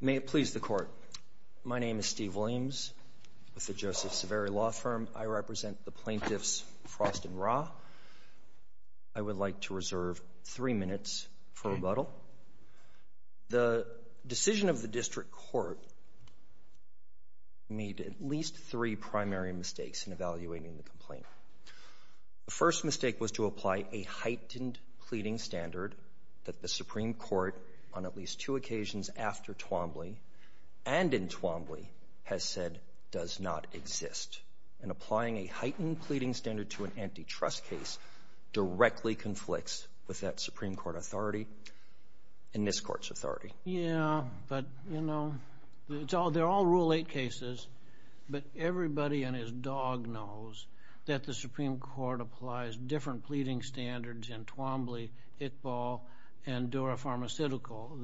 May it please the Court, my name is Steve Williams with the Joseph Saveri Law Firm. I represent the plaintiffs Frost and Ra. I would like to reserve three minutes for rebuttal. The decision of the District Court made at least three primary mistakes in evaluating the complaint. The first mistake was to apply a heightened pleading standard that the Supreme Court on at least two occasions after Twombly, and in Twombly, has said does not exist. And applying a heightened pleading standard to an antitrust case directly conflicts with that Supreme Court authority and this Court's authority. Yeah, but you know, they're all Rule 8 cases, but everybody and his dog knows that the Supreme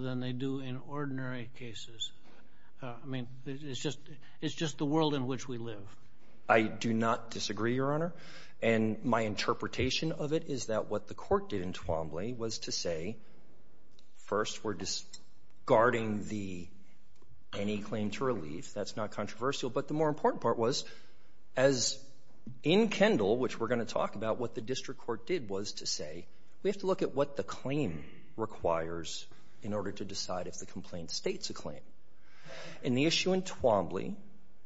than they do in ordinary cases. I mean, it's just the world in which we live. I do not disagree, Your Honor, and my interpretation of it is that what the Court did in Twombly was to say, first, we're discarding any claim to relief. That's not controversial. But the more important part was, as in Kendall, which we're going to talk about what the District Court did was to say, we have to look at what the claim requires in order to decide if the complaint states a claim. And the issue in Twombly,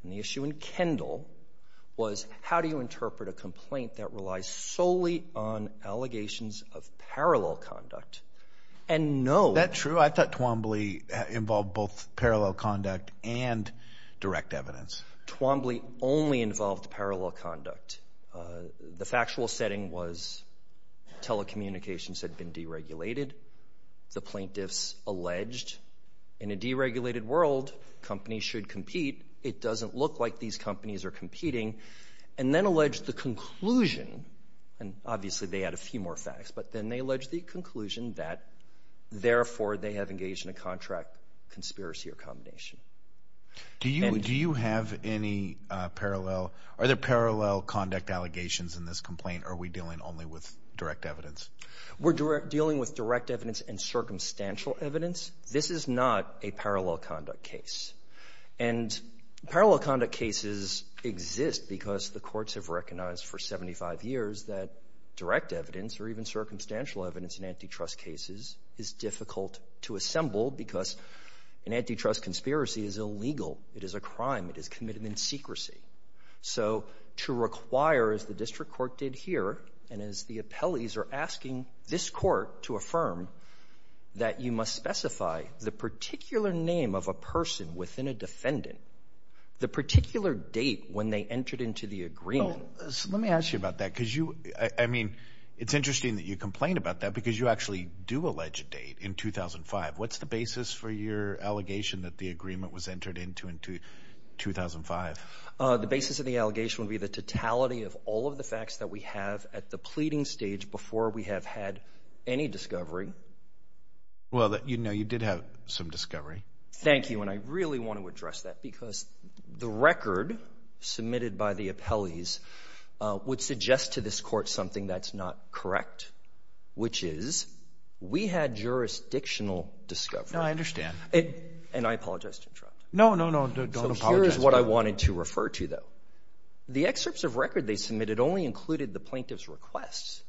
and the issue in Kendall, was how do you interpret a complaint that relies solely on allegations of parallel conduct and no— That true? I thought Twombly involved both parallel conduct and direct evidence. Twombly only involved parallel conduct. The factual setting was telecommunications had been deregulated. The plaintiffs alleged, in a deregulated world, companies should compete. It doesn't look like these companies are competing. And then alleged the conclusion, and obviously they had a few more facts, but then they alleged the conclusion that, therefore, they have engaged in a contract conspiracy or combination. Do you have any parallel—are there parallel conduct allegations in this complaint, or are we dealing only with direct evidence? We're dealing with direct evidence and circumstantial evidence. This is not a parallel conduct case. And parallel conduct cases exist because the courts have recognized for 75 years that direct evidence or even circumstantial evidence in antitrust cases is difficult to assemble because an antitrust conspiracy is illegal. It is a crime. It is committed in secrecy. So to require, as the district court did here, and as the appellees are asking this court to affirm, that you must specify the particular name of a person within a defendant, the particular date when they entered into the agreement. Let me ask you about that because you—I mean, it's interesting that you complain about that because you actually do allege a date in 2005. What's the basis for your allegation that the agreement was entered into in 2005? The basis of the allegation would be the totality of all of the facts that we have at the pleading stage before we have had any discovery. Well, you know, you did have some discovery. Thank you. And I really want to address that because the record submitted by the appellees would suggest to this court something that's not correct, which is we had jurisdictional discovery. No, I understand. And I apologize to interrupt. No, no, no, don't apologize. So here's what I wanted to refer to, though. The excerpts of record they submitted only included the plaintiff's requests.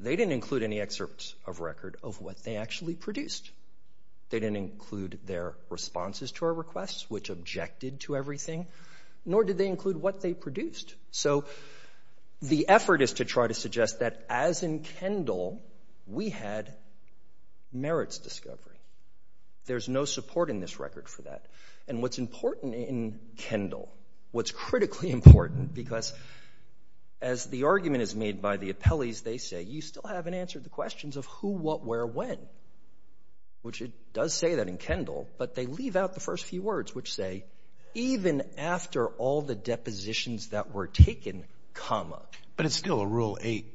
They didn't include any excerpts of record of what they actually produced. They didn't include their responses to our requests, which objected to everything, nor did they include what they produced. So the effort is to try to suggest that, as in Kendall, we had merits discovery. There's no support in this record for that. And what's important in Kendall, what's critically important, because as the argument is made by the appellees, they say, you still haven't answered the questions of who, what, where, when, which it does say that in Kendall, but they leave out the first few words, which say, even after all the depositions that were taken, comma. But it's still a Rule 8.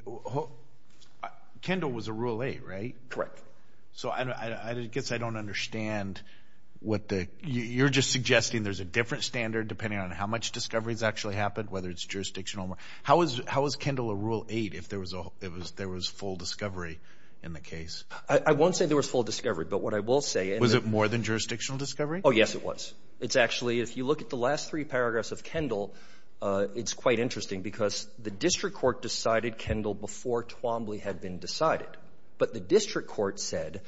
Kendall was a Rule 8, right? Correct. So I guess I don't understand what the, you're just suggesting there's a different standard, depending on how much discovery has actually happened, whether it's jurisdictional. How was Kendall a Rule 8 if there was full discovery in the case? I won't say there was full discovery, but what I will say. Was it more than jurisdictional discovery? Oh, yes, it was. It's actually, if you look at the last three paragraphs of Kendall, it's quite interesting, because the district court decided Kendall before Twombly had been decided. But the district court said,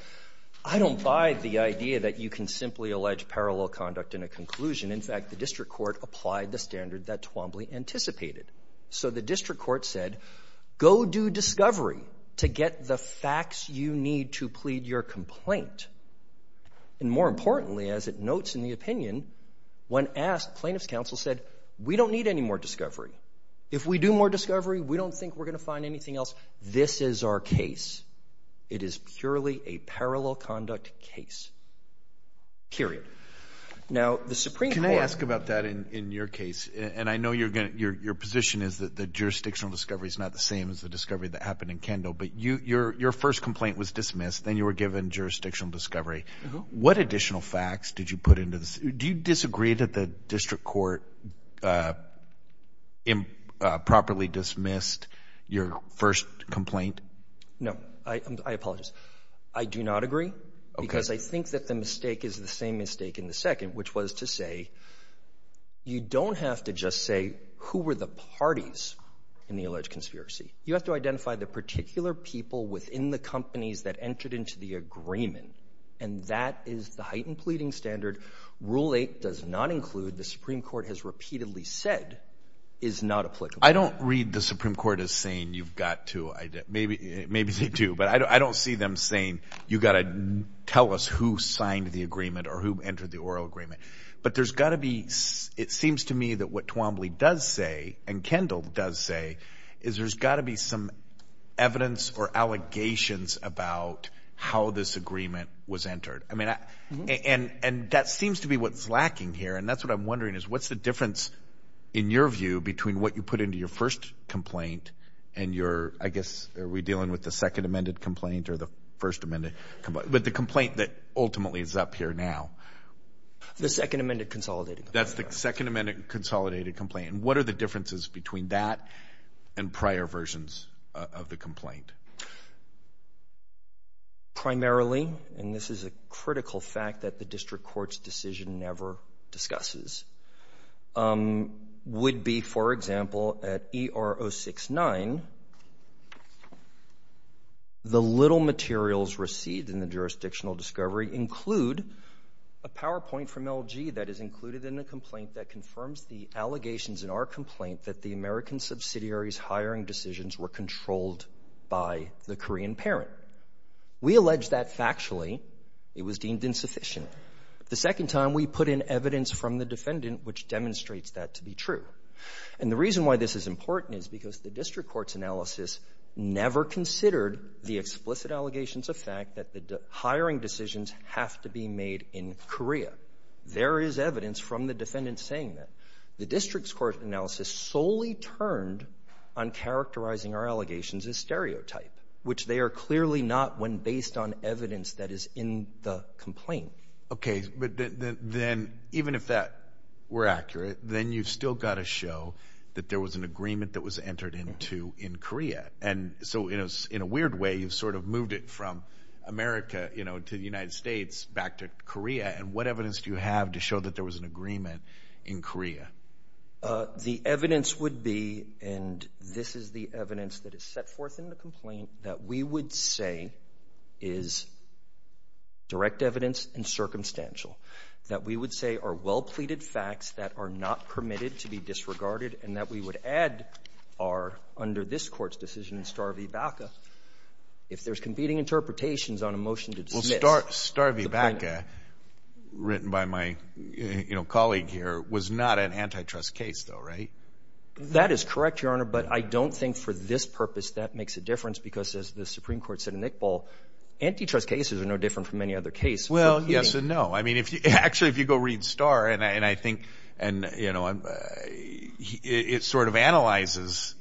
I don't buy the idea that you can simply allege parallel conduct in a conclusion. In fact, the district court applied the standard that Twombly anticipated. So the district court said, go do discovery to get the facts you need to plead your complaint. And more importantly, as it notes in the opinion, when asked, plaintiff's counsel said, we don't need any more discovery. If we do more discovery, we don't think we're going to find anything else. This is our case. It is purely a parallel conduct case, period. Now, the Supreme Court— Can I ask about that in your case? And I know your position is that jurisdictional discovery is not the same as the discovery that happened in Kendall. But your first complaint was dismissed. Then you were given jurisdictional discovery. What additional facts did you put into this? Do you disagree that the district court improperly dismissed your first complaint? No, I apologize. I do not agree, because I think that the mistake is the same mistake in the second, which was to say, you don't have to just say, who were the parties in the alleged conspiracy? You have to identify the particular people within the companies that entered into the agreement. And that is the heightened pleading standard. Rule 8 does not include, the Supreme Court has repeatedly said, is not applicable. I don't read the Supreme Court as saying, you've got to—maybe they do. But I don't see them saying, you've got to tell us who signed the agreement or who entered the oral agreement. But there's got to be—it seems to me that what Twombly does say, and Kendall does say, is there's got to be some evidence or allegations about how this agreement was entered. I mean, and that seems to be what's lacking here. And that's what I'm wondering is, what's the difference, in your view, between what you put into your first complaint and your—I guess, are we dealing with the second amended complaint or the first amended complaint? But the complaint that ultimately is up here now. The second amended consolidated complaint. That's the second amended consolidated complaint. What are the differences between that and prior versions of the complaint? Primarily, and this is a critical fact that the district court's decision never discusses, would be, for example, at E.R. 069, the little materials received in the jurisdictional discovery include a PowerPoint from LG that is in our complaint that the American subsidiary's hiring decisions were controlled by the Korean parent. We allege that factually. It was deemed insufficient. The second time, we put in evidence from the defendant which demonstrates that to be true. And the reason why this is important is because the district court's analysis never considered the explicit allegations of fact that the hiring decisions have to be made in Korea. There is evidence from the defendant saying that. The district's court analysis solely turned on characterizing our allegations as stereotype, which they are clearly not when based on evidence that is in the complaint. Okay. But then even if that were accurate, then you've still got to show that there was an agreement that was entered into in Korea. And so in a weird way, you've sort of moved it from America, you know, to the United States, back to Korea. And what evidence do you have to show that there was an agreement in Korea? The evidence would be, and this is the evidence that is set forth in the complaint, that we would say is direct evidence and circumstantial. That we would say are well-pleaded facts that are not permitted to be disregarded and that we would add are under this court's decision in Star v. Baca, if there's competing interpretations on a motion to dismiss the plaintiff. Written by my colleague here was not an antitrust case though, right? That is correct, Your Honor. But I don't think for this purpose, that makes a difference because as the Supreme Court said in Iqbal, antitrust cases are no different from any other case. Well, yes and no. I mean, actually, if you go read Star and I think it sort of analyzes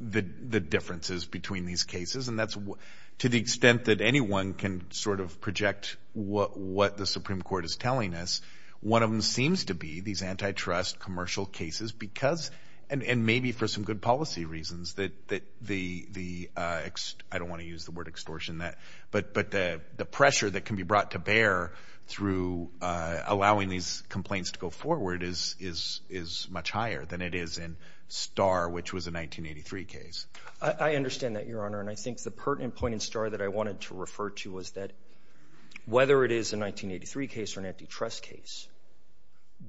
the differences between these cases and that's to the extent that anyone can sort of project what the Supreme Court is telling us. One of them seems to be these antitrust commercial cases because and maybe for some good policy reasons that the, I don't want to use the word extortion, but the pressure that can be brought to bear through allowing these complaints to go forward is much higher than it is in Star, which was a 1983 case. I understand that, Your Honor. And I think the point in Star that I wanted to refer to was that whether it is a 1983 case or an antitrust case,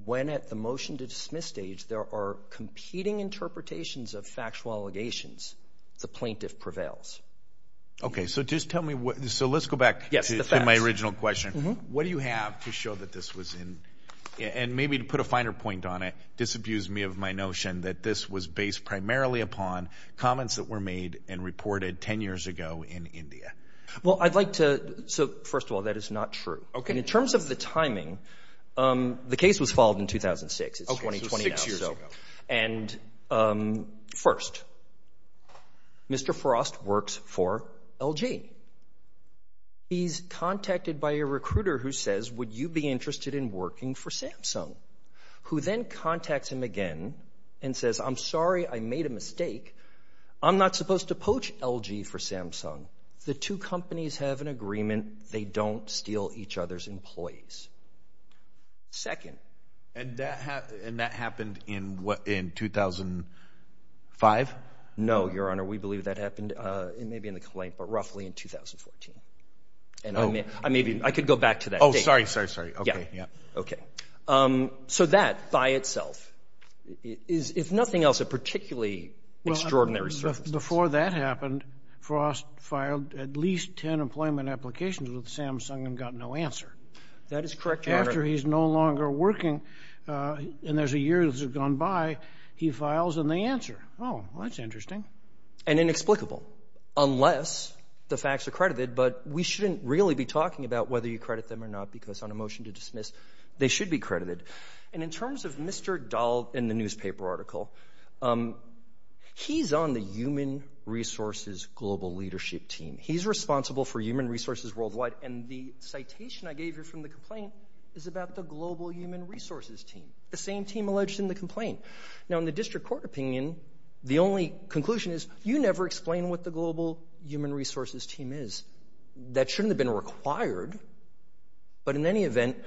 when at the motion to dismiss stage, there are competing interpretations of factual allegations, the plaintiff prevails. Okay. So just tell me what, so let's go back to my original question. What do you have to show that this was in, and maybe to put a finer point on it, disabuse me of my notion that this was based primarily upon comments that were made and reported 10 years ago in India? Well, I'd like to, so first of all, that is not true. In terms of the timing, the case was filed in 2006. Okay, so six years ago. And first, Mr. Frost works for LG. He's contacted by a recruiter who says, would you be interested in working for Samsung? Who then contacts him again and says, I'm sorry, I made a mistake. I'm not supposed to poach LG for Samsung. The two companies have an agreement. They don't steal each other's employees. Second. And that happened in what, in 2005? No, Your Honor, we believe that happened, it may be in the complaint, but roughly in 2014. And I may be, I could go back to that. Oh, sorry, sorry, sorry. Okay, yeah. Okay. So that by itself is, if nothing else, a particularly extraordinary surface. Before that happened, Frost filed at least 10 employment applications with Samsung and got no answer. That is correct, Your Honor. After he's no longer working, and there's a year that has gone by, he files and they answer. Oh, that's interesting. And inexplicable, unless the facts are credited. But we shouldn't really be talking about whether you credit them or not, because on a motion to dismiss, they should be credited. And in terms of Mr. Dahl in the newspaper article, he's on the human resources global leadership team. He's responsible for human resources worldwide. And the citation I gave you from the complaint is about the global human resources team, the same team alleged in the complaint. Now, in the district court opinion, the only conclusion is you never explained what the global human resources team is. That shouldn't have been required. But in any event,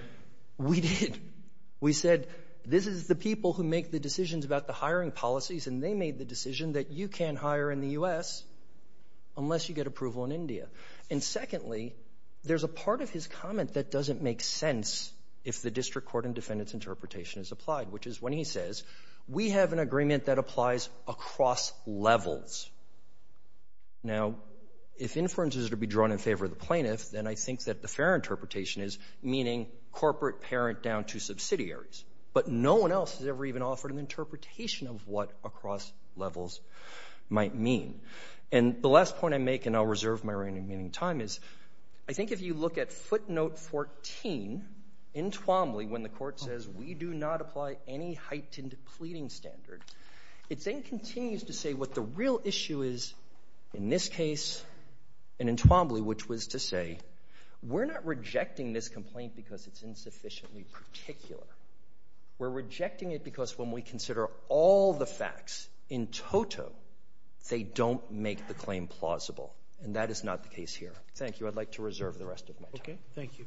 we did. We said this is the people who make the decisions about the hiring policies, and they made the decision that you can't hire in the U.S. unless you get approval in India. And secondly, there's a part of his comment that doesn't make sense if the district court and defendant's interpretation is applied, which is when he says, we have an agreement that applies across levels. Now, if inference is to be drawn in favor of the plaintiff, then I think that the fair interpretation is meaning corporate parent down to subsidiaries. But no one else has ever even offered an interpretation of what across levels might mean. And the last point I make, and I'll reserve my remaining time, is I think if you look at footnote 14 in Twombly, when the court says, we do not apply any heightened pleading standard, it then continues to say what the real issue is in this case and in Twombly, which was to say, we're not rejecting this complaint because it's insufficiently particular. We're rejecting it because when we consider all the facts in toto, they don't make the claim plausible. And that is not the case here. Thank you. I'd like to reserve the rest of my time. Thank you.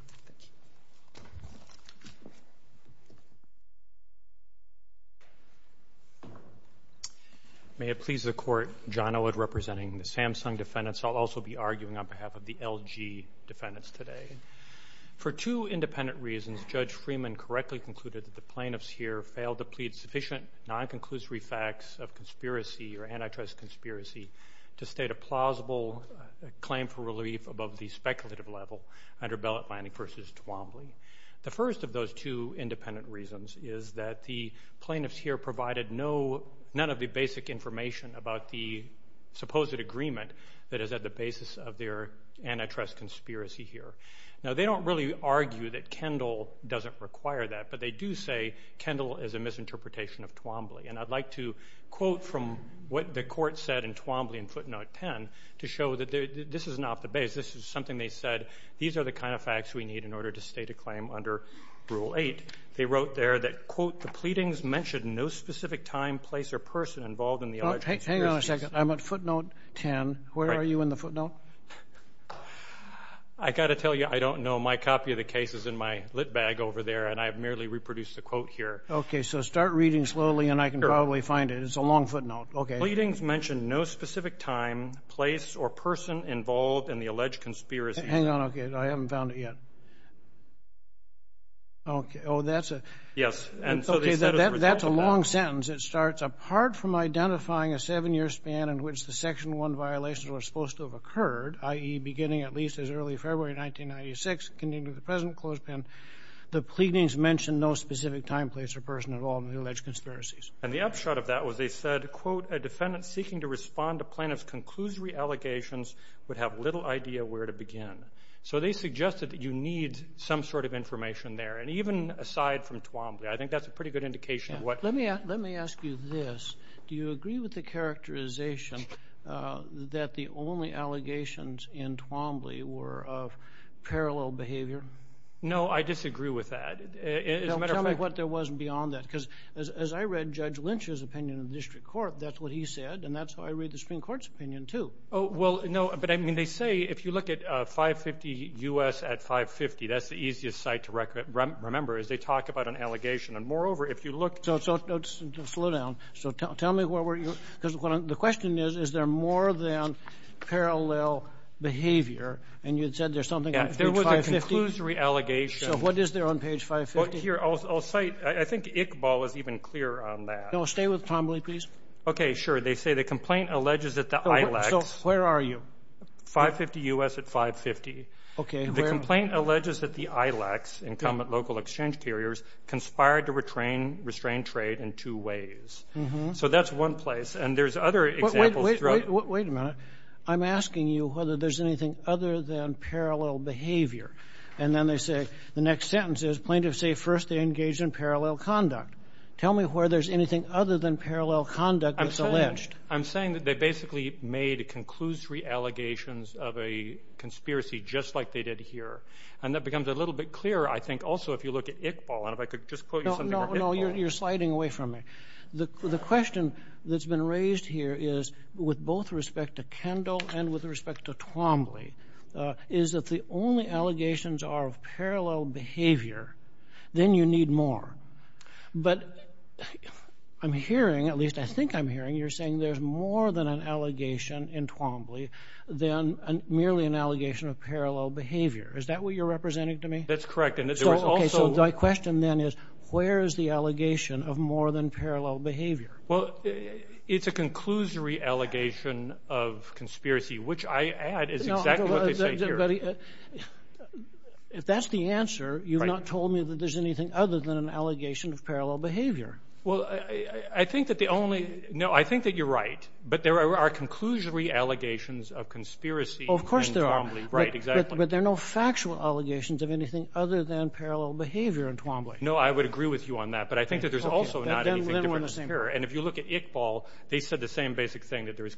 May it please the court, John Elwood representing the Samsung defendants. I'll also be arguing on behalf of the LG defendants today. For two independent reasons, Judge Freeman correctly concluded that the plaintiffs here failed to plead sufficient non-conclusory facts of conspiracy or antitrust conspiracy to state a plausible claim for relief above the speculative level under ballot lining versus Twombly. The first of those two independent reasons is that the plaintiffs here provided none of the basic information about the supposed agreement that is at the basis of their antitrust conspiracy here. Now, they don't really argue that Kendall doesn't require that, but they do say Kendall is a misinterpretation of Twombly. And I'd like to quote from what the court said in Twombly in footnote 10 to show that this is not the base. This is something they said. These are the kind of facts we need in order to state a claim under Rule 8. They wrote there that, quote, the pleadings mentioned no specific time, place, or person involved in the alleged conspiracy. Hang on a second. I'm at footnote 10. Where are you in the footnote? I got to tell you, I don't know. My copy of the case is in my lit bag over there, and I have merely reproduced the quote here. OK. So start reading slowly, and I can probably find it. It's a long footnote. OK. Pleadings mentioned no specific time, place, or person involved in the alleged conspiracy. Hang on. OK. I haven't found it yet. OK. Oh, that's a long sentence. It starts, apart from identifying a seven-year span in which the Section 1 violations were supposed to have occurred, i.e., beginning at least as early February 1996, continuing to the present, close pen, the pleadings mentioned no specific time, place, or person involved in the alleged conspiracies. And the upshot of that was they said, quote, a defendant seeking to respond to plaintiff's conclusory allegations would have little idea where to begin. So they suggested that you need some sort of information there. And even aside from Twombly, I think that's a pretty good indication of what. Let me ask you this. Do you agree with the characterization that the only allegations in Twombly were of parallel behavior? No. I disagree with that. As a matter of fact, Tell me what there was beyond that. Because as I read Judge Lynch's opinion in the district court, that's what he said. And that's how I read the Supreme Court's opinion, too. Oh, well, no. But I mean, they say if you look at 550 U.S. at 550, that's the easiest site to remember is they talk about an allegation. And moreover, if you look So slow down. So tell me where were you? Because the question is, is there more than parallel behavior? And you said there's something on page 550? Yeah, there was a conclusory allegation. So what is there on page 550? Here, I'll cite, I think Iqbal is even clearer on that. No, stay with Twombly, please. Okay, sure. They say the complaint alleges that the ILEX So where are you? 550 U.S. at 550. Okay. The complaint alleges that the ILEX, incumbent local exchange carriers, conspired to retrain, restrain trade in two ways. So that's one place. And there's other examples Wait, wait, wait a minute. I'm asking you whether there's anything other than parallel behavior. And then they say, the next sentence is, plaintiffs say first they engage in parallel conduct. Tell me where there's anything other than parallel conduct that's alleged. I'm saying that they basically made conclusory allegations of a conspiracy just like they did here. And that becomes a little bit clearer, I think, also, if you look at Iqbal. And if I could just quote you something from Iqbal. No, no, you're sliding away from me. The question that's been raised here is, with both respect to Kendall and with respect to Twombly, is that the only allegations are of parallel behavior, then you need more. But I'm hearing, at least I think I'm hearing, you're saying there's more than an allegation in Twombly than merely an allegation of parallel behavior. Is that what you're representing to me? That's correct. And there was also my question then is, where is the allegation of more than parallel behavior? Well, it's a conclusory allegation of conspiracy, which I add is exactly what they say here. If that's the answer, you've not told me that there's anything other than an allegation of parallel behavior. Well, I think that the only... No, I think that you're right. But there are conclusory allegations of conspiracy in Twombly. Of course there are. Right, exactly. But there are no factual allegations of anything other than parallel behavior in Twombly. No, I would agree with you on that. But I think that there's also not anything different here. And if you look at Iqbal, they said the same basic thing that there's...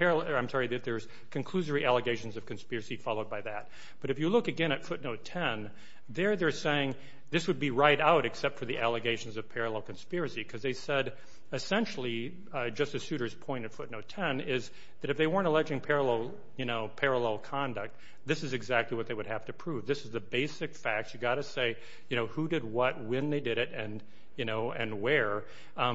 I'm sorry, that there's conclusory allegations of conspiracy followed by that. But if you look again at footnote 10, they're saying this would be right out except for the allegations of parallel conspiracy. Because they said, essentially, Justice Souter's point of footnote 10 is that if they weren't alleging parallel conduct, this is exactly what they would have to prove. This is the basic facts. You've got to say who did what, when they did it, and where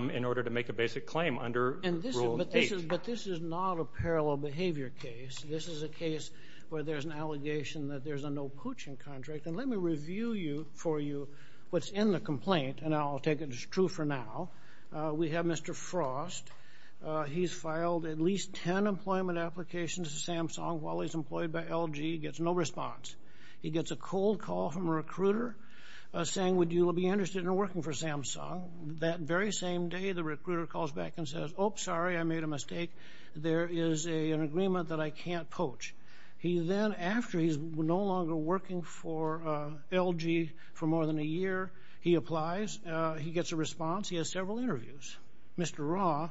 in order to make a basic claim under Rule 8. But this is not a parallel behavior case. This is a case where there's an allegation that there's a no poaching contract. And let me review for you what's in the complaint. And I'll take it as true for now. We have Mr. Frost. He's filed at least 10 employment applications to Samsung while he's employed by LG. He gets no response. He gets a cold call from a recruiter saying, would you be interested in working for Samsung? That very same day, the recruiter calls back and says, oh, sorry, I made a mistake. There is an agreement that I can't poach. He then, after he's no longer working for LG for more than a year, he applies. He gets a response. He has several interviews. Mr. Ra,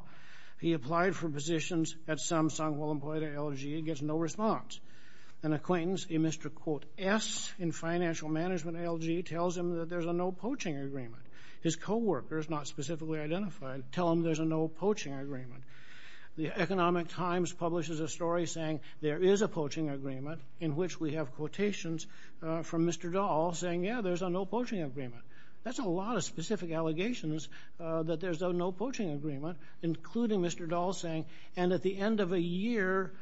he applied for positions at Samsung while employed at LG. He gets no response. An acquaintance, a Mr. S in financial management at LG, tells him that there's a no poaching agreement. His co-workers, not specifically identified, tell him there's a no poaching agreement. The Economic Times publishes a story saying there is a poaching agreement in which we have quotations from Mr. Dahl saying, yeah, there's a no poaching agreement. That's a lot of specific allegations that there's a no poaching agreement, including Mr. Dahl saying, and at the end of a year,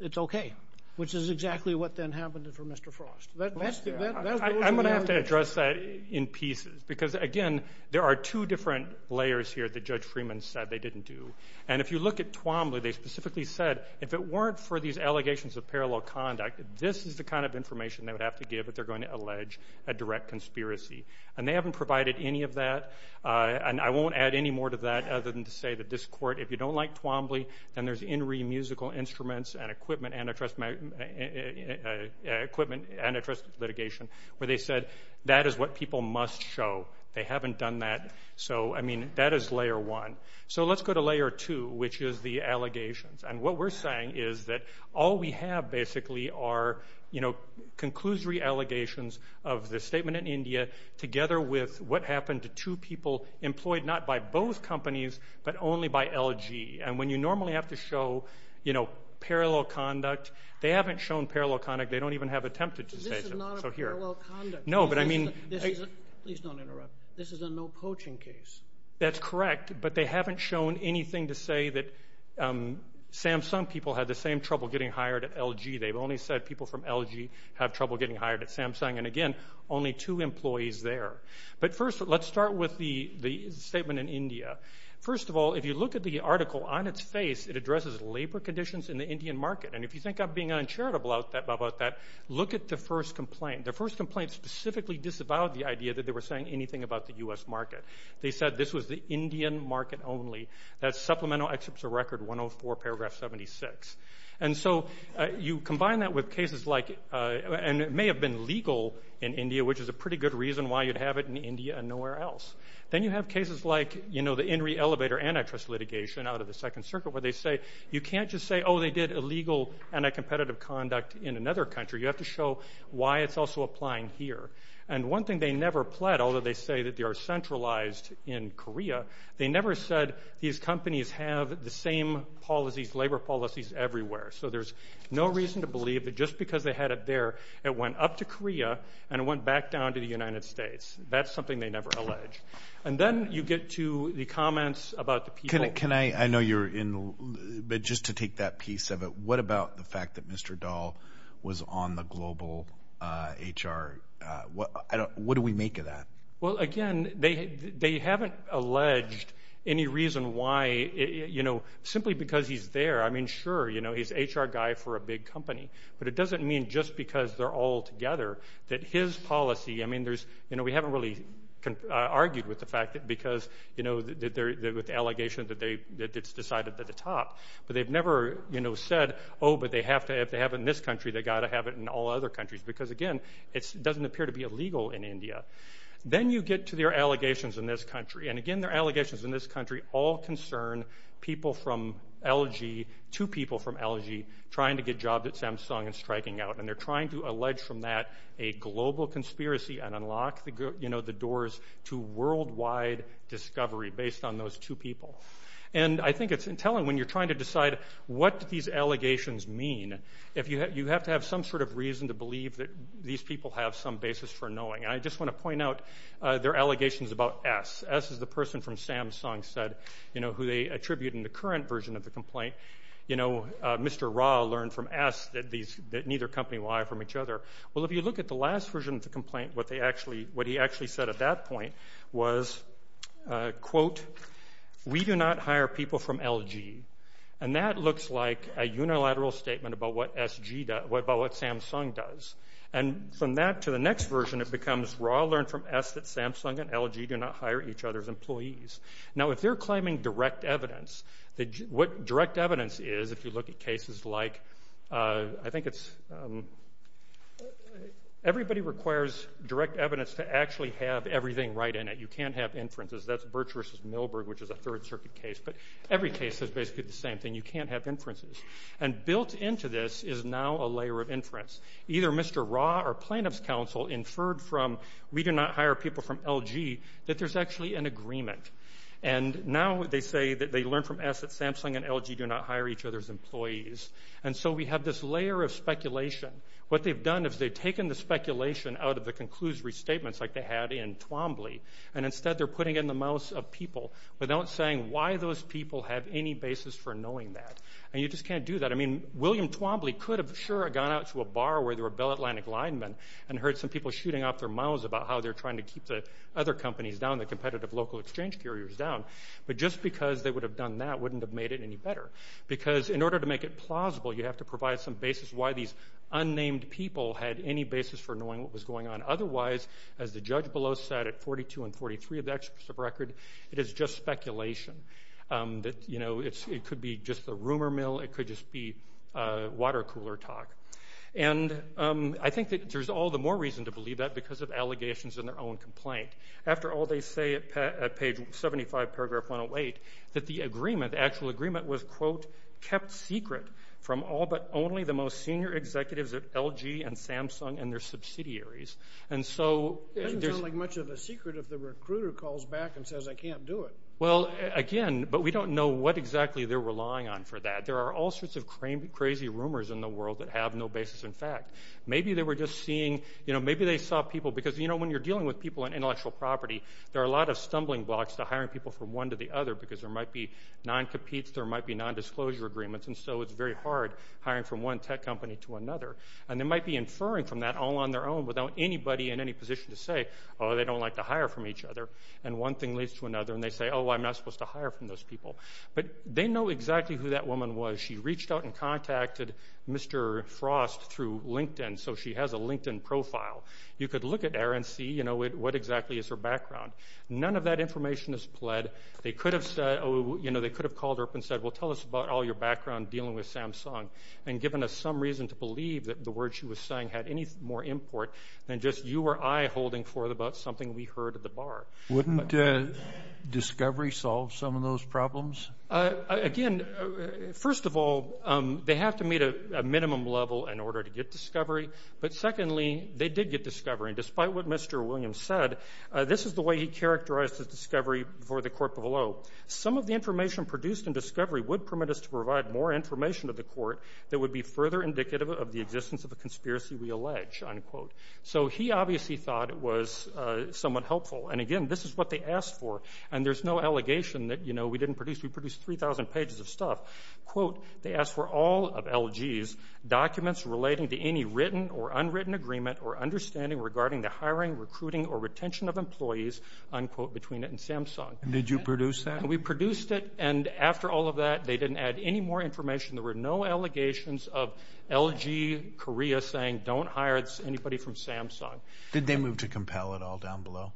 it's OK, which is exactly what then happened for Mr. Frost. I'm going to have to address that in pieces because, again, there are two different layers here that Judge Freeman said they didn't do. And if you look at Twombly, they specifically said, if it weren't for these allegations of parallel conduct, this is the kind of information they would have to give if they're going to allege a direct conspiracy. And they haven't provided any of that. And I won't add any more to that other than to say that this court, if you don't like Twombly, then there's INRI Musical Instruments and Equipment Antitrust Litigation, where they said that is what people must show. They haven't done that. So, I mean, that is layer one. So let's go to layer two, which is the allegations. And what we're saying is that all we have basically are, you know, conclusory allegations of the statement in India together with what happened to two people employed not by both companies, but only by LG. And when you normally have to show, you know, parallel conduct, they haven't shown parallel conduct. They don't even have attempted to say that. This is not a parallel conduct. No, but I mean... Please don't interrupt. This is a no coaching case. That's correct. But they haven't shown anything to say that Samsung people had the same trouble getting hired at LG. They've only said people from LG have trouble getting hired at Samsung. And again, only two employees there. But first, let's start with the statement in India. First of all, if you look at the article on its face, it addresses labor conditions in the Indian market. And if you think I'm being uncharitable about that, look at the first complaint. The first complaint specifically disavowed the idea that they were saying anything about the U.S. market. They said this was the Indian market only. That's supplemental excerpts of record 104, paragraph 76. And so you combine that with cases like... And it may have been legal in India, which is a pretty good reason why you'd have it in India and nowhere else. Then you have cases like, you know, the INRI elevator antitrust litigation out of the Second Circuit, where they say, you can't just say, oh, they did illegal and a competitive conduct in another country. You have to show why it's also applying here. And one thing they never pled, although they say that they are centralized in Korea, they never said these companies have the same policies, labor policies everywhere. So there's no reason to believe that just because they had it there, it went up to Korea and went back down to the United States. That's something they never allege. And then you get to the comments about the people. Can I... I know you're in... But just to take that piece of it, what about the fact that Mr. Dahl was on the global HR? What do we make of that? Well, again, they haven't alleged any reason why, you know, simply because he's there. I mean, sure, you know, he's HR guy for a big company, but it doesn't mean just because they're all together that his policy... You know, we haven't really argued with the fact that because, you know, they're with allegations that it's decided at the top. But they've never, you know, said, oh, but they have to have it in this country, they got to have it in all other countries. Because again, it doesn't appear to be illegal in India. Then you get to their allegations in this country. And again, their allegations in this country all concern people from LG to people from LG trying to get jobs at Samsung and striking out. And they're trying to allege from that a global conspiracy and unlock, you know, the doors to worldwide discovery based on those two people. And I think it's telling when you're trying to decide what do these allegations mean? If you have to have some sort of reason to believe that these people have some basis for knowing. I just want to point out their allegations about S. S is the person from Samsung said, you know, who they attribute in the current version of the complaint. You know, Mr. Ra learned from S that these, that neither company lie from each other. Well, if you look at the last version of the complaint, what they actually, what he actually said at that point was, quote, we do not hire people from LG. And that looks like a unilateral statement about what Samsung does. And from that to the next version, it becomes Ra learned from S that Samsung and LG do not hire each other's employees. Now, if they're claiming direct evidence, what direct evidence is, if you look at cases like, I think it's, everybody requires direct evidence to actually have everything right in it. You can't have inferences. That's Birch versus Milberg, which is a third circuit case. But every case is basically the same thing. You can't have inferences. And built into this is now a layer of inference. Either Mr. Ra or plaintiff's counsel inferred from, we do not hire people from LG, that there's actually an agreement. And now they say that they learned from S that Samsung and LG do not hire each other's employees. And so we have this layer of speculation. What they've done is they've taken the speculation out of the conclusive restatements like they had in Twombly. And instead, they're putting in the mouths of people without saying why those people have any basis for knowing that. And you just can't do that. I mean, William Twombly could have, sure, gone out to a bar where there were Bell Atlantic linemen and heard some people shooting off their mouths about how they're trying to keep the other companies down, the competitive local exchange carriers down. But just because they would have done that wouldn't have made it any better. Because in order to make it plausible, you have to provide some basis why these unnamed people had any basis for knowing what was going on. Otherwise, as the judge below said, at 42 and 43 of the experts of record, it is just speculation. That it could be just a rumor mill, it could just be a water cooler talk. And I think that there's all the more reason to believe that because of allegations in their own complaint. After all, they say at page 75, paragraph 108, that the agreement, the actual agreement, was, quote, kept secret from all but only the most senior executives of LG and Samsung and their subsidiaries. And so- It doesn't sound like much of a secret if the recruiter calls back and says, I can't do it. Well, again, but we don't know what exactly they're relying on for that. There are all sorts of crazy rumors in the world that have no basis in fact. Maybe they were just seeing, maybe they saw people, because when you're dealing with people on intellectual property, there are a lot of stumbling blocks to hiring people from one to the other because there might be non-competes, there might be non-disclosure agreements, and so it's very hard hiring from one tech company to another. And they might be inferring from that all on their own without anybody in any position to say, oh, they don't like to hire from each other. And one thing leads to another, and they say, oh, I'm not supposed to hire from those people. But they know exactly who that woman was. She reached out and contacted Mr. Frost through LinkedIn, so she has a LinkedIn profile. You could look at her and see, you know, what exactly is her background. None of that information is pled. They could have called her up and said, well, tell us about all your background dealing with Samsung, and given us some reason to believe that the words she was saying had any more import than just you or I holding forth about something we heard at the bar. Wouldn't discovery solve some of those problems? Again, first of all, they have to meet a minimum level in order to get discovery. Despite what Mr. Williams said, this is the way he characterized his discovery for the court below. Some of the information produced in discovery would permit us to provide more information to the court that would be further indicative of the existence of a conspiracy we allege, unquote. So he obviously thought it was somewhat helpful. And again, this is what they asked for. And there's no allegation that, you know, we didn't produce, we produced 3,000 pages of stuff. Quote, they asked for all of LG's documents relating to any written or unwritten agreement or understanding regarding the hiring, recruiting or retention of employees, unquote, between it and Samsung. And did you produce that? We produced it. And after all of that, they didn't add any more information. There were no allegations of LG Korea saying don't hire anybody from Samsung. Did they move to compel it all down below?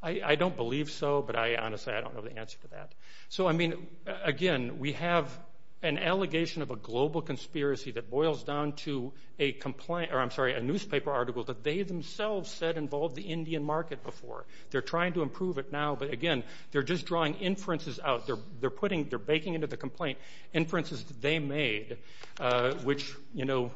I don't believe so, but I honestly, I don't know the answer to that. So, I mean, again, we have an allegation of a global conspiracy that boils down to a complaint, or I'm sorry, a newspaper article that they themselves said involved the Indian market before. They're trying to improve it now. But again, they're just drawing inferences out. They're putting, they're baking into the complaint inferences that they made, which, you know,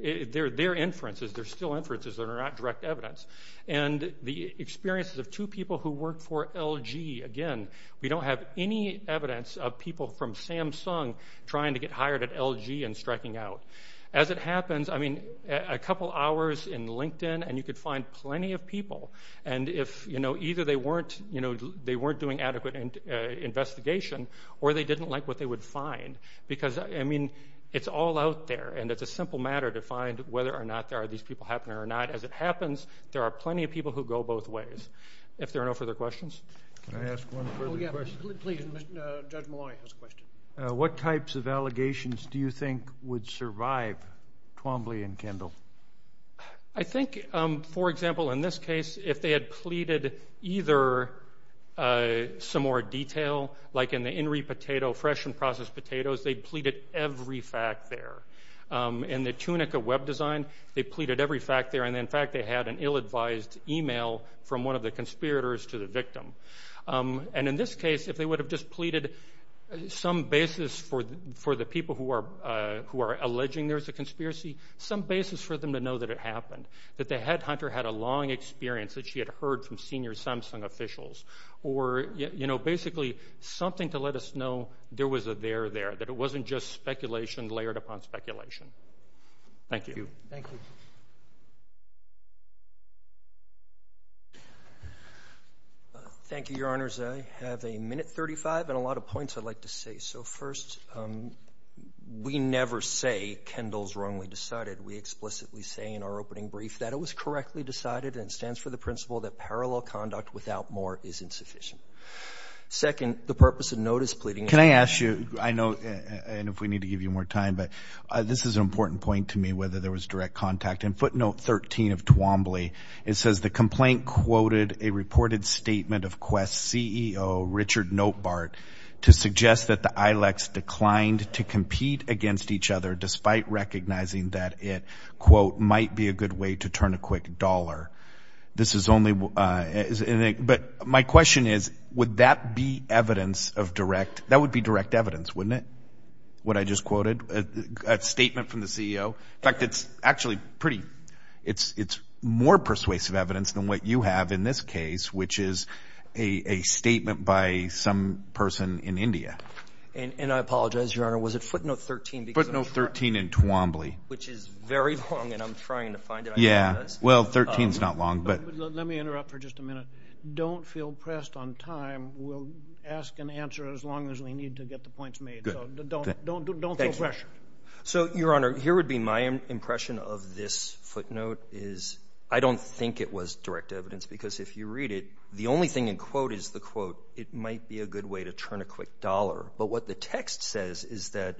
they're inferences. They're still inferences that are not direct evidence. And the experiences of two people who work for LG, again, we don't have any evidence of people from Samsung trying to get hired at LG and striking out. As it happens, I mean, a couple hours in LinkedIn, and you could find plenty of people. And if, you know, either they weren't, you know, they weren't doing adequate investigation, or they didn't like what they would find, because, I mean, it's all out there. And it's a simple matter to find whether or not there are these people happening or not. As it happens, there are plenty of people who go both ways. If there are no further questions. Can I ask one further question? Please, Judge Maloney has a question. What types of allegations do you think would survive Twombly and Kendall? I think, for example, in this case, if they had pleaded either some more detail, like in the Inri potato, fresh and processed potatoes, they pleaded every fact there. In the Tunica web design, they pleaded every fact there. And in fact, they had an ill-advised email from one of the conspirators to the victim. And in this case, if they would have just pleaded some basis for the people who are alleging there's a conspiracy, some basis for them to know that it happened. That the headhunter had a long experience that she had heard from senior Samsung officials. Or, you know, basically, something to let us know there was a there there. That it wasn't just speculation layered upon speculation. Thank you. Thank you. Thank you, Your Honors. I have a minute 35 and a lot of points I'd like to say. So first, we never say Kendall's wrongly decided. We explicitly say in our opening brief that it was correctly decided. And it stands for the principle that parallel conduct without more is insufficient. Second, the purpose of notice pleading. Can I ask you, I know, and if we need to give you more time, but this is an important point to me, whether there was direct contact. In footnote 13 of Twombly, it says, the complaint quoted a reported statement of Quest CEO, Richard Notebart, to suggest that the Ilex declined to compete against each other, despite recognizing that it, quote, might be a good way to turn a quick dollar. This is only, but my question is, would that be evidence of direct, that would be direct evidence, wouldn't it? What I just quoted, a statement from the CEO. In fact, it's actually pretty, it's more persuasive evidence than what you have in this case, which is a statement by some person in India. And I apologize, Your Honor, was it footnote 13? Footnote 13 in Twombly. Which is very long, and I'm trying to find it. Yeah, well, 13's not long, but. Let me interrupt for just a minute. Don't feel pressed on time. We'll ask and answer as long as we need to get the points made. So don't feel pressured. So Your Honor, here would be my impression of this footnote is, I don't think it was direct evidence, because if you read it, the only thing in quote is the quote, it might be a good way to turn a quick dollar. But what the text says is that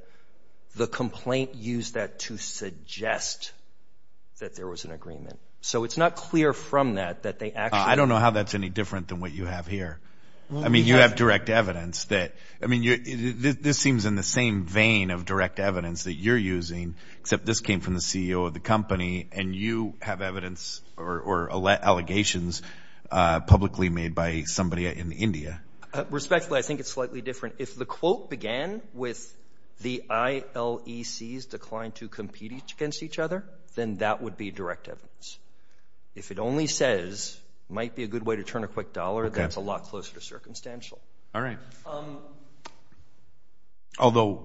the complaint used that to suggest that there was an agreement. So it's not clear from that, that they actually. I don't know how that's any different than what you have here. I mean, you have direct evidence that, I mean, this seems in the same vein of direct evidence that you're using, except this came from the CEO of the company, and you have evidence or allegations publicly made by somebody in India. Respectfully, I think it's slightly different. If the quote began with the ILECs declined to compete against each other, then that would be direct evidence. If it only says might be a good way to turn a quick dollar, that's a lot closer to circumstantial. All right. Although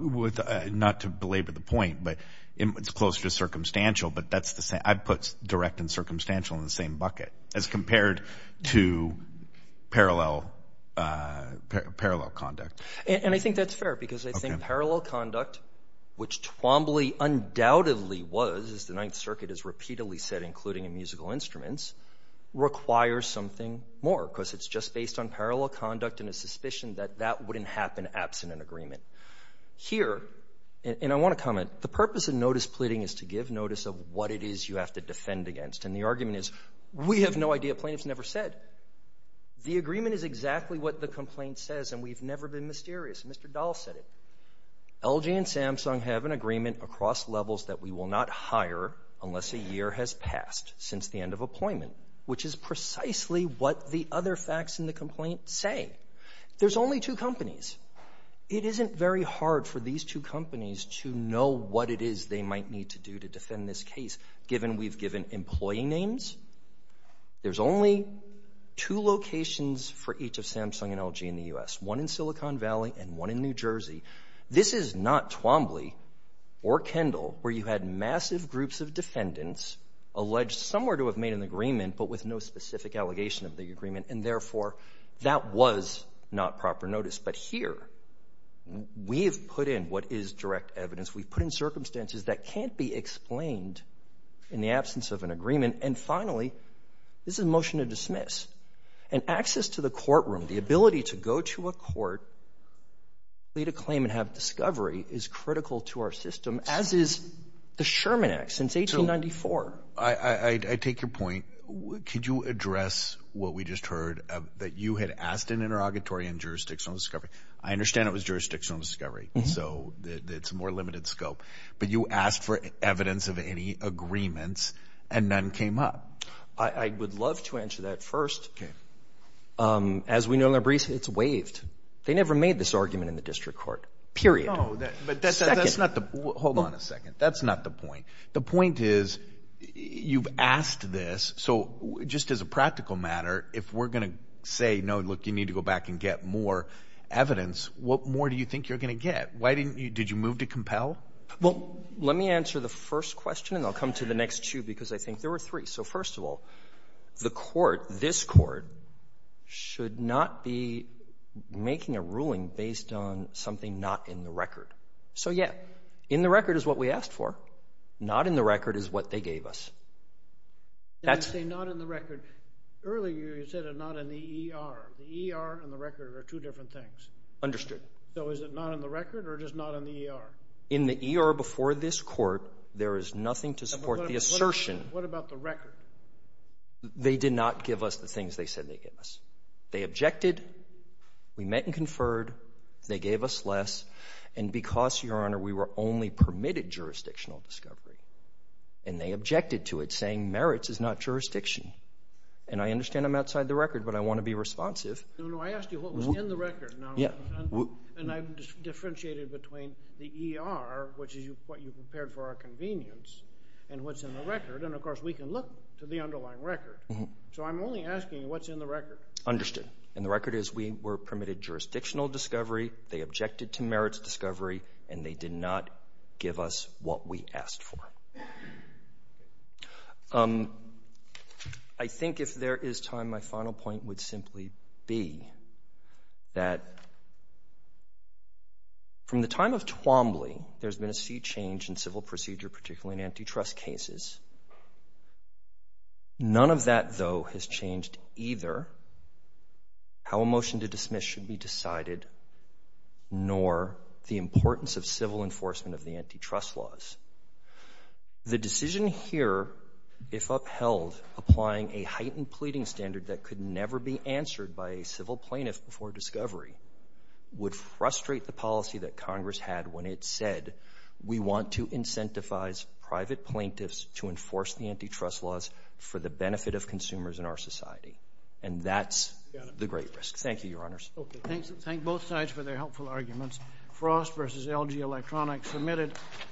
not to belabor the point, but it's closer to circumstantial, but that's the same. I've put direct and circumstantial in the same bucket as compared to parallel conduct. And I think that's fair because I think parallel conduct, which Twombly undoubtedly was, as the Ninth Circuit has repeatedly said, including in musical instruments, requires something more because it's just based on parallel conduct and a suspicion that that wouldn't happen absent an agreement. Here, and I want to comment, the purpose of notice pleading is to give notice of what it is you have to defend against. And the argument is, we have no idea. Plaintiffs never said. The agreement is exactly what the complaint says, and we've never been mysterious. Mr. Dahl said it. LG and Samsung have an agreement across levels that we will not hire unless a year has passed since the end of appointment, which is precisely what the other facts in the complaint say. There's only two companies. It isn't very hard for these two companies to know what it is they might need to do to defend this case, given we've given employee names. There's only two locations for each of Samsung and LG in the U.S., one in Silicon Valley and one in New Jersey. This is not Twombly or Kendall, where you had massive groups of defendants alleged somewhere to have made an agreement, but with no specific allegation of the agreement, and therefore that was not proper notice. But here, we have put in what is direct evidence. We've put in circumstances that can't be explained in the absence of an agreement. And finally, this is a motion to dismiss. And access to the courtroom, the ability to go to a court, plead a claim and have discovery is critical to our system, as is the Sherman Act since 1894. I take your point. Could you address what we just heard that you had asked an interrogatory and jurisdictional discovery? I understand it was jurisdictional discovery. So it's more limited scope. But you asked for evidence of any agreements and none came up. I would love to answer that first. As we know, it's waived. They never made this argument in the district court, period. No, but that's not the... Hold on a second. That's not the point. The point is you've asked this. So just as a practical matter, if we're going to say, no, look, you need to go back and get more evidence, what more do you think you're going to get? Why didn't you... Did you move to compel? Well, let me answer the first question and I'll come to the next two because I think there were three. So first of all, the court, this court, should not be making a ruling based on something not in the record. So yeah, in the record is what we asked for. Not in the record is what they gave us. I say not in the record. Earlier, you said not in the ER. The ER and the record are two different things. Understood. So is it not in the record or it is not in the ER? In the ER before this court, there is nothing to support the assertion. What about the record? They did not give us the things they said they gave us. They objected. We met and conferred. They gave us less. And because, Your Honor, we were only permitted jurisdictional discovery and they objected to it saying merits is not jurisdiction. And I understand I'm outside the record, but I want to be responsive. No, no, I asked you what was in the record. Yeah. And I've differentiated between the ER, which is what you prepared for our convenience and what's in the record. And of course, we can look to the underlying record. So I'm only asking what's in the record. Understood. And the record is we were permitted jurisdictional discovery. They objected to merits discovery and they did not give us what we asked for. I think if there is time, my final point would simply be that from the time of Twombly, there's been a sea change in civil procedure, particularly in antitrust cases. None of that, though, has changed either how a motion to dismiss should be decided nor the importance of civil enforcement of the antitrust laws. The decision here, if upheld, applying a heightened pleading standard that could never be answered by a civil plaintiff before discovery, would frustrate the policy that Congress had when it said, we want to incentivize private plaintiffs to enforce the antitrust laws for the benefit of consumers in our society. And that's the great risk. Thank you, Your Honors. Okay. Thank both sides for their helpful arguments. Frost versus LG Electronics submitted.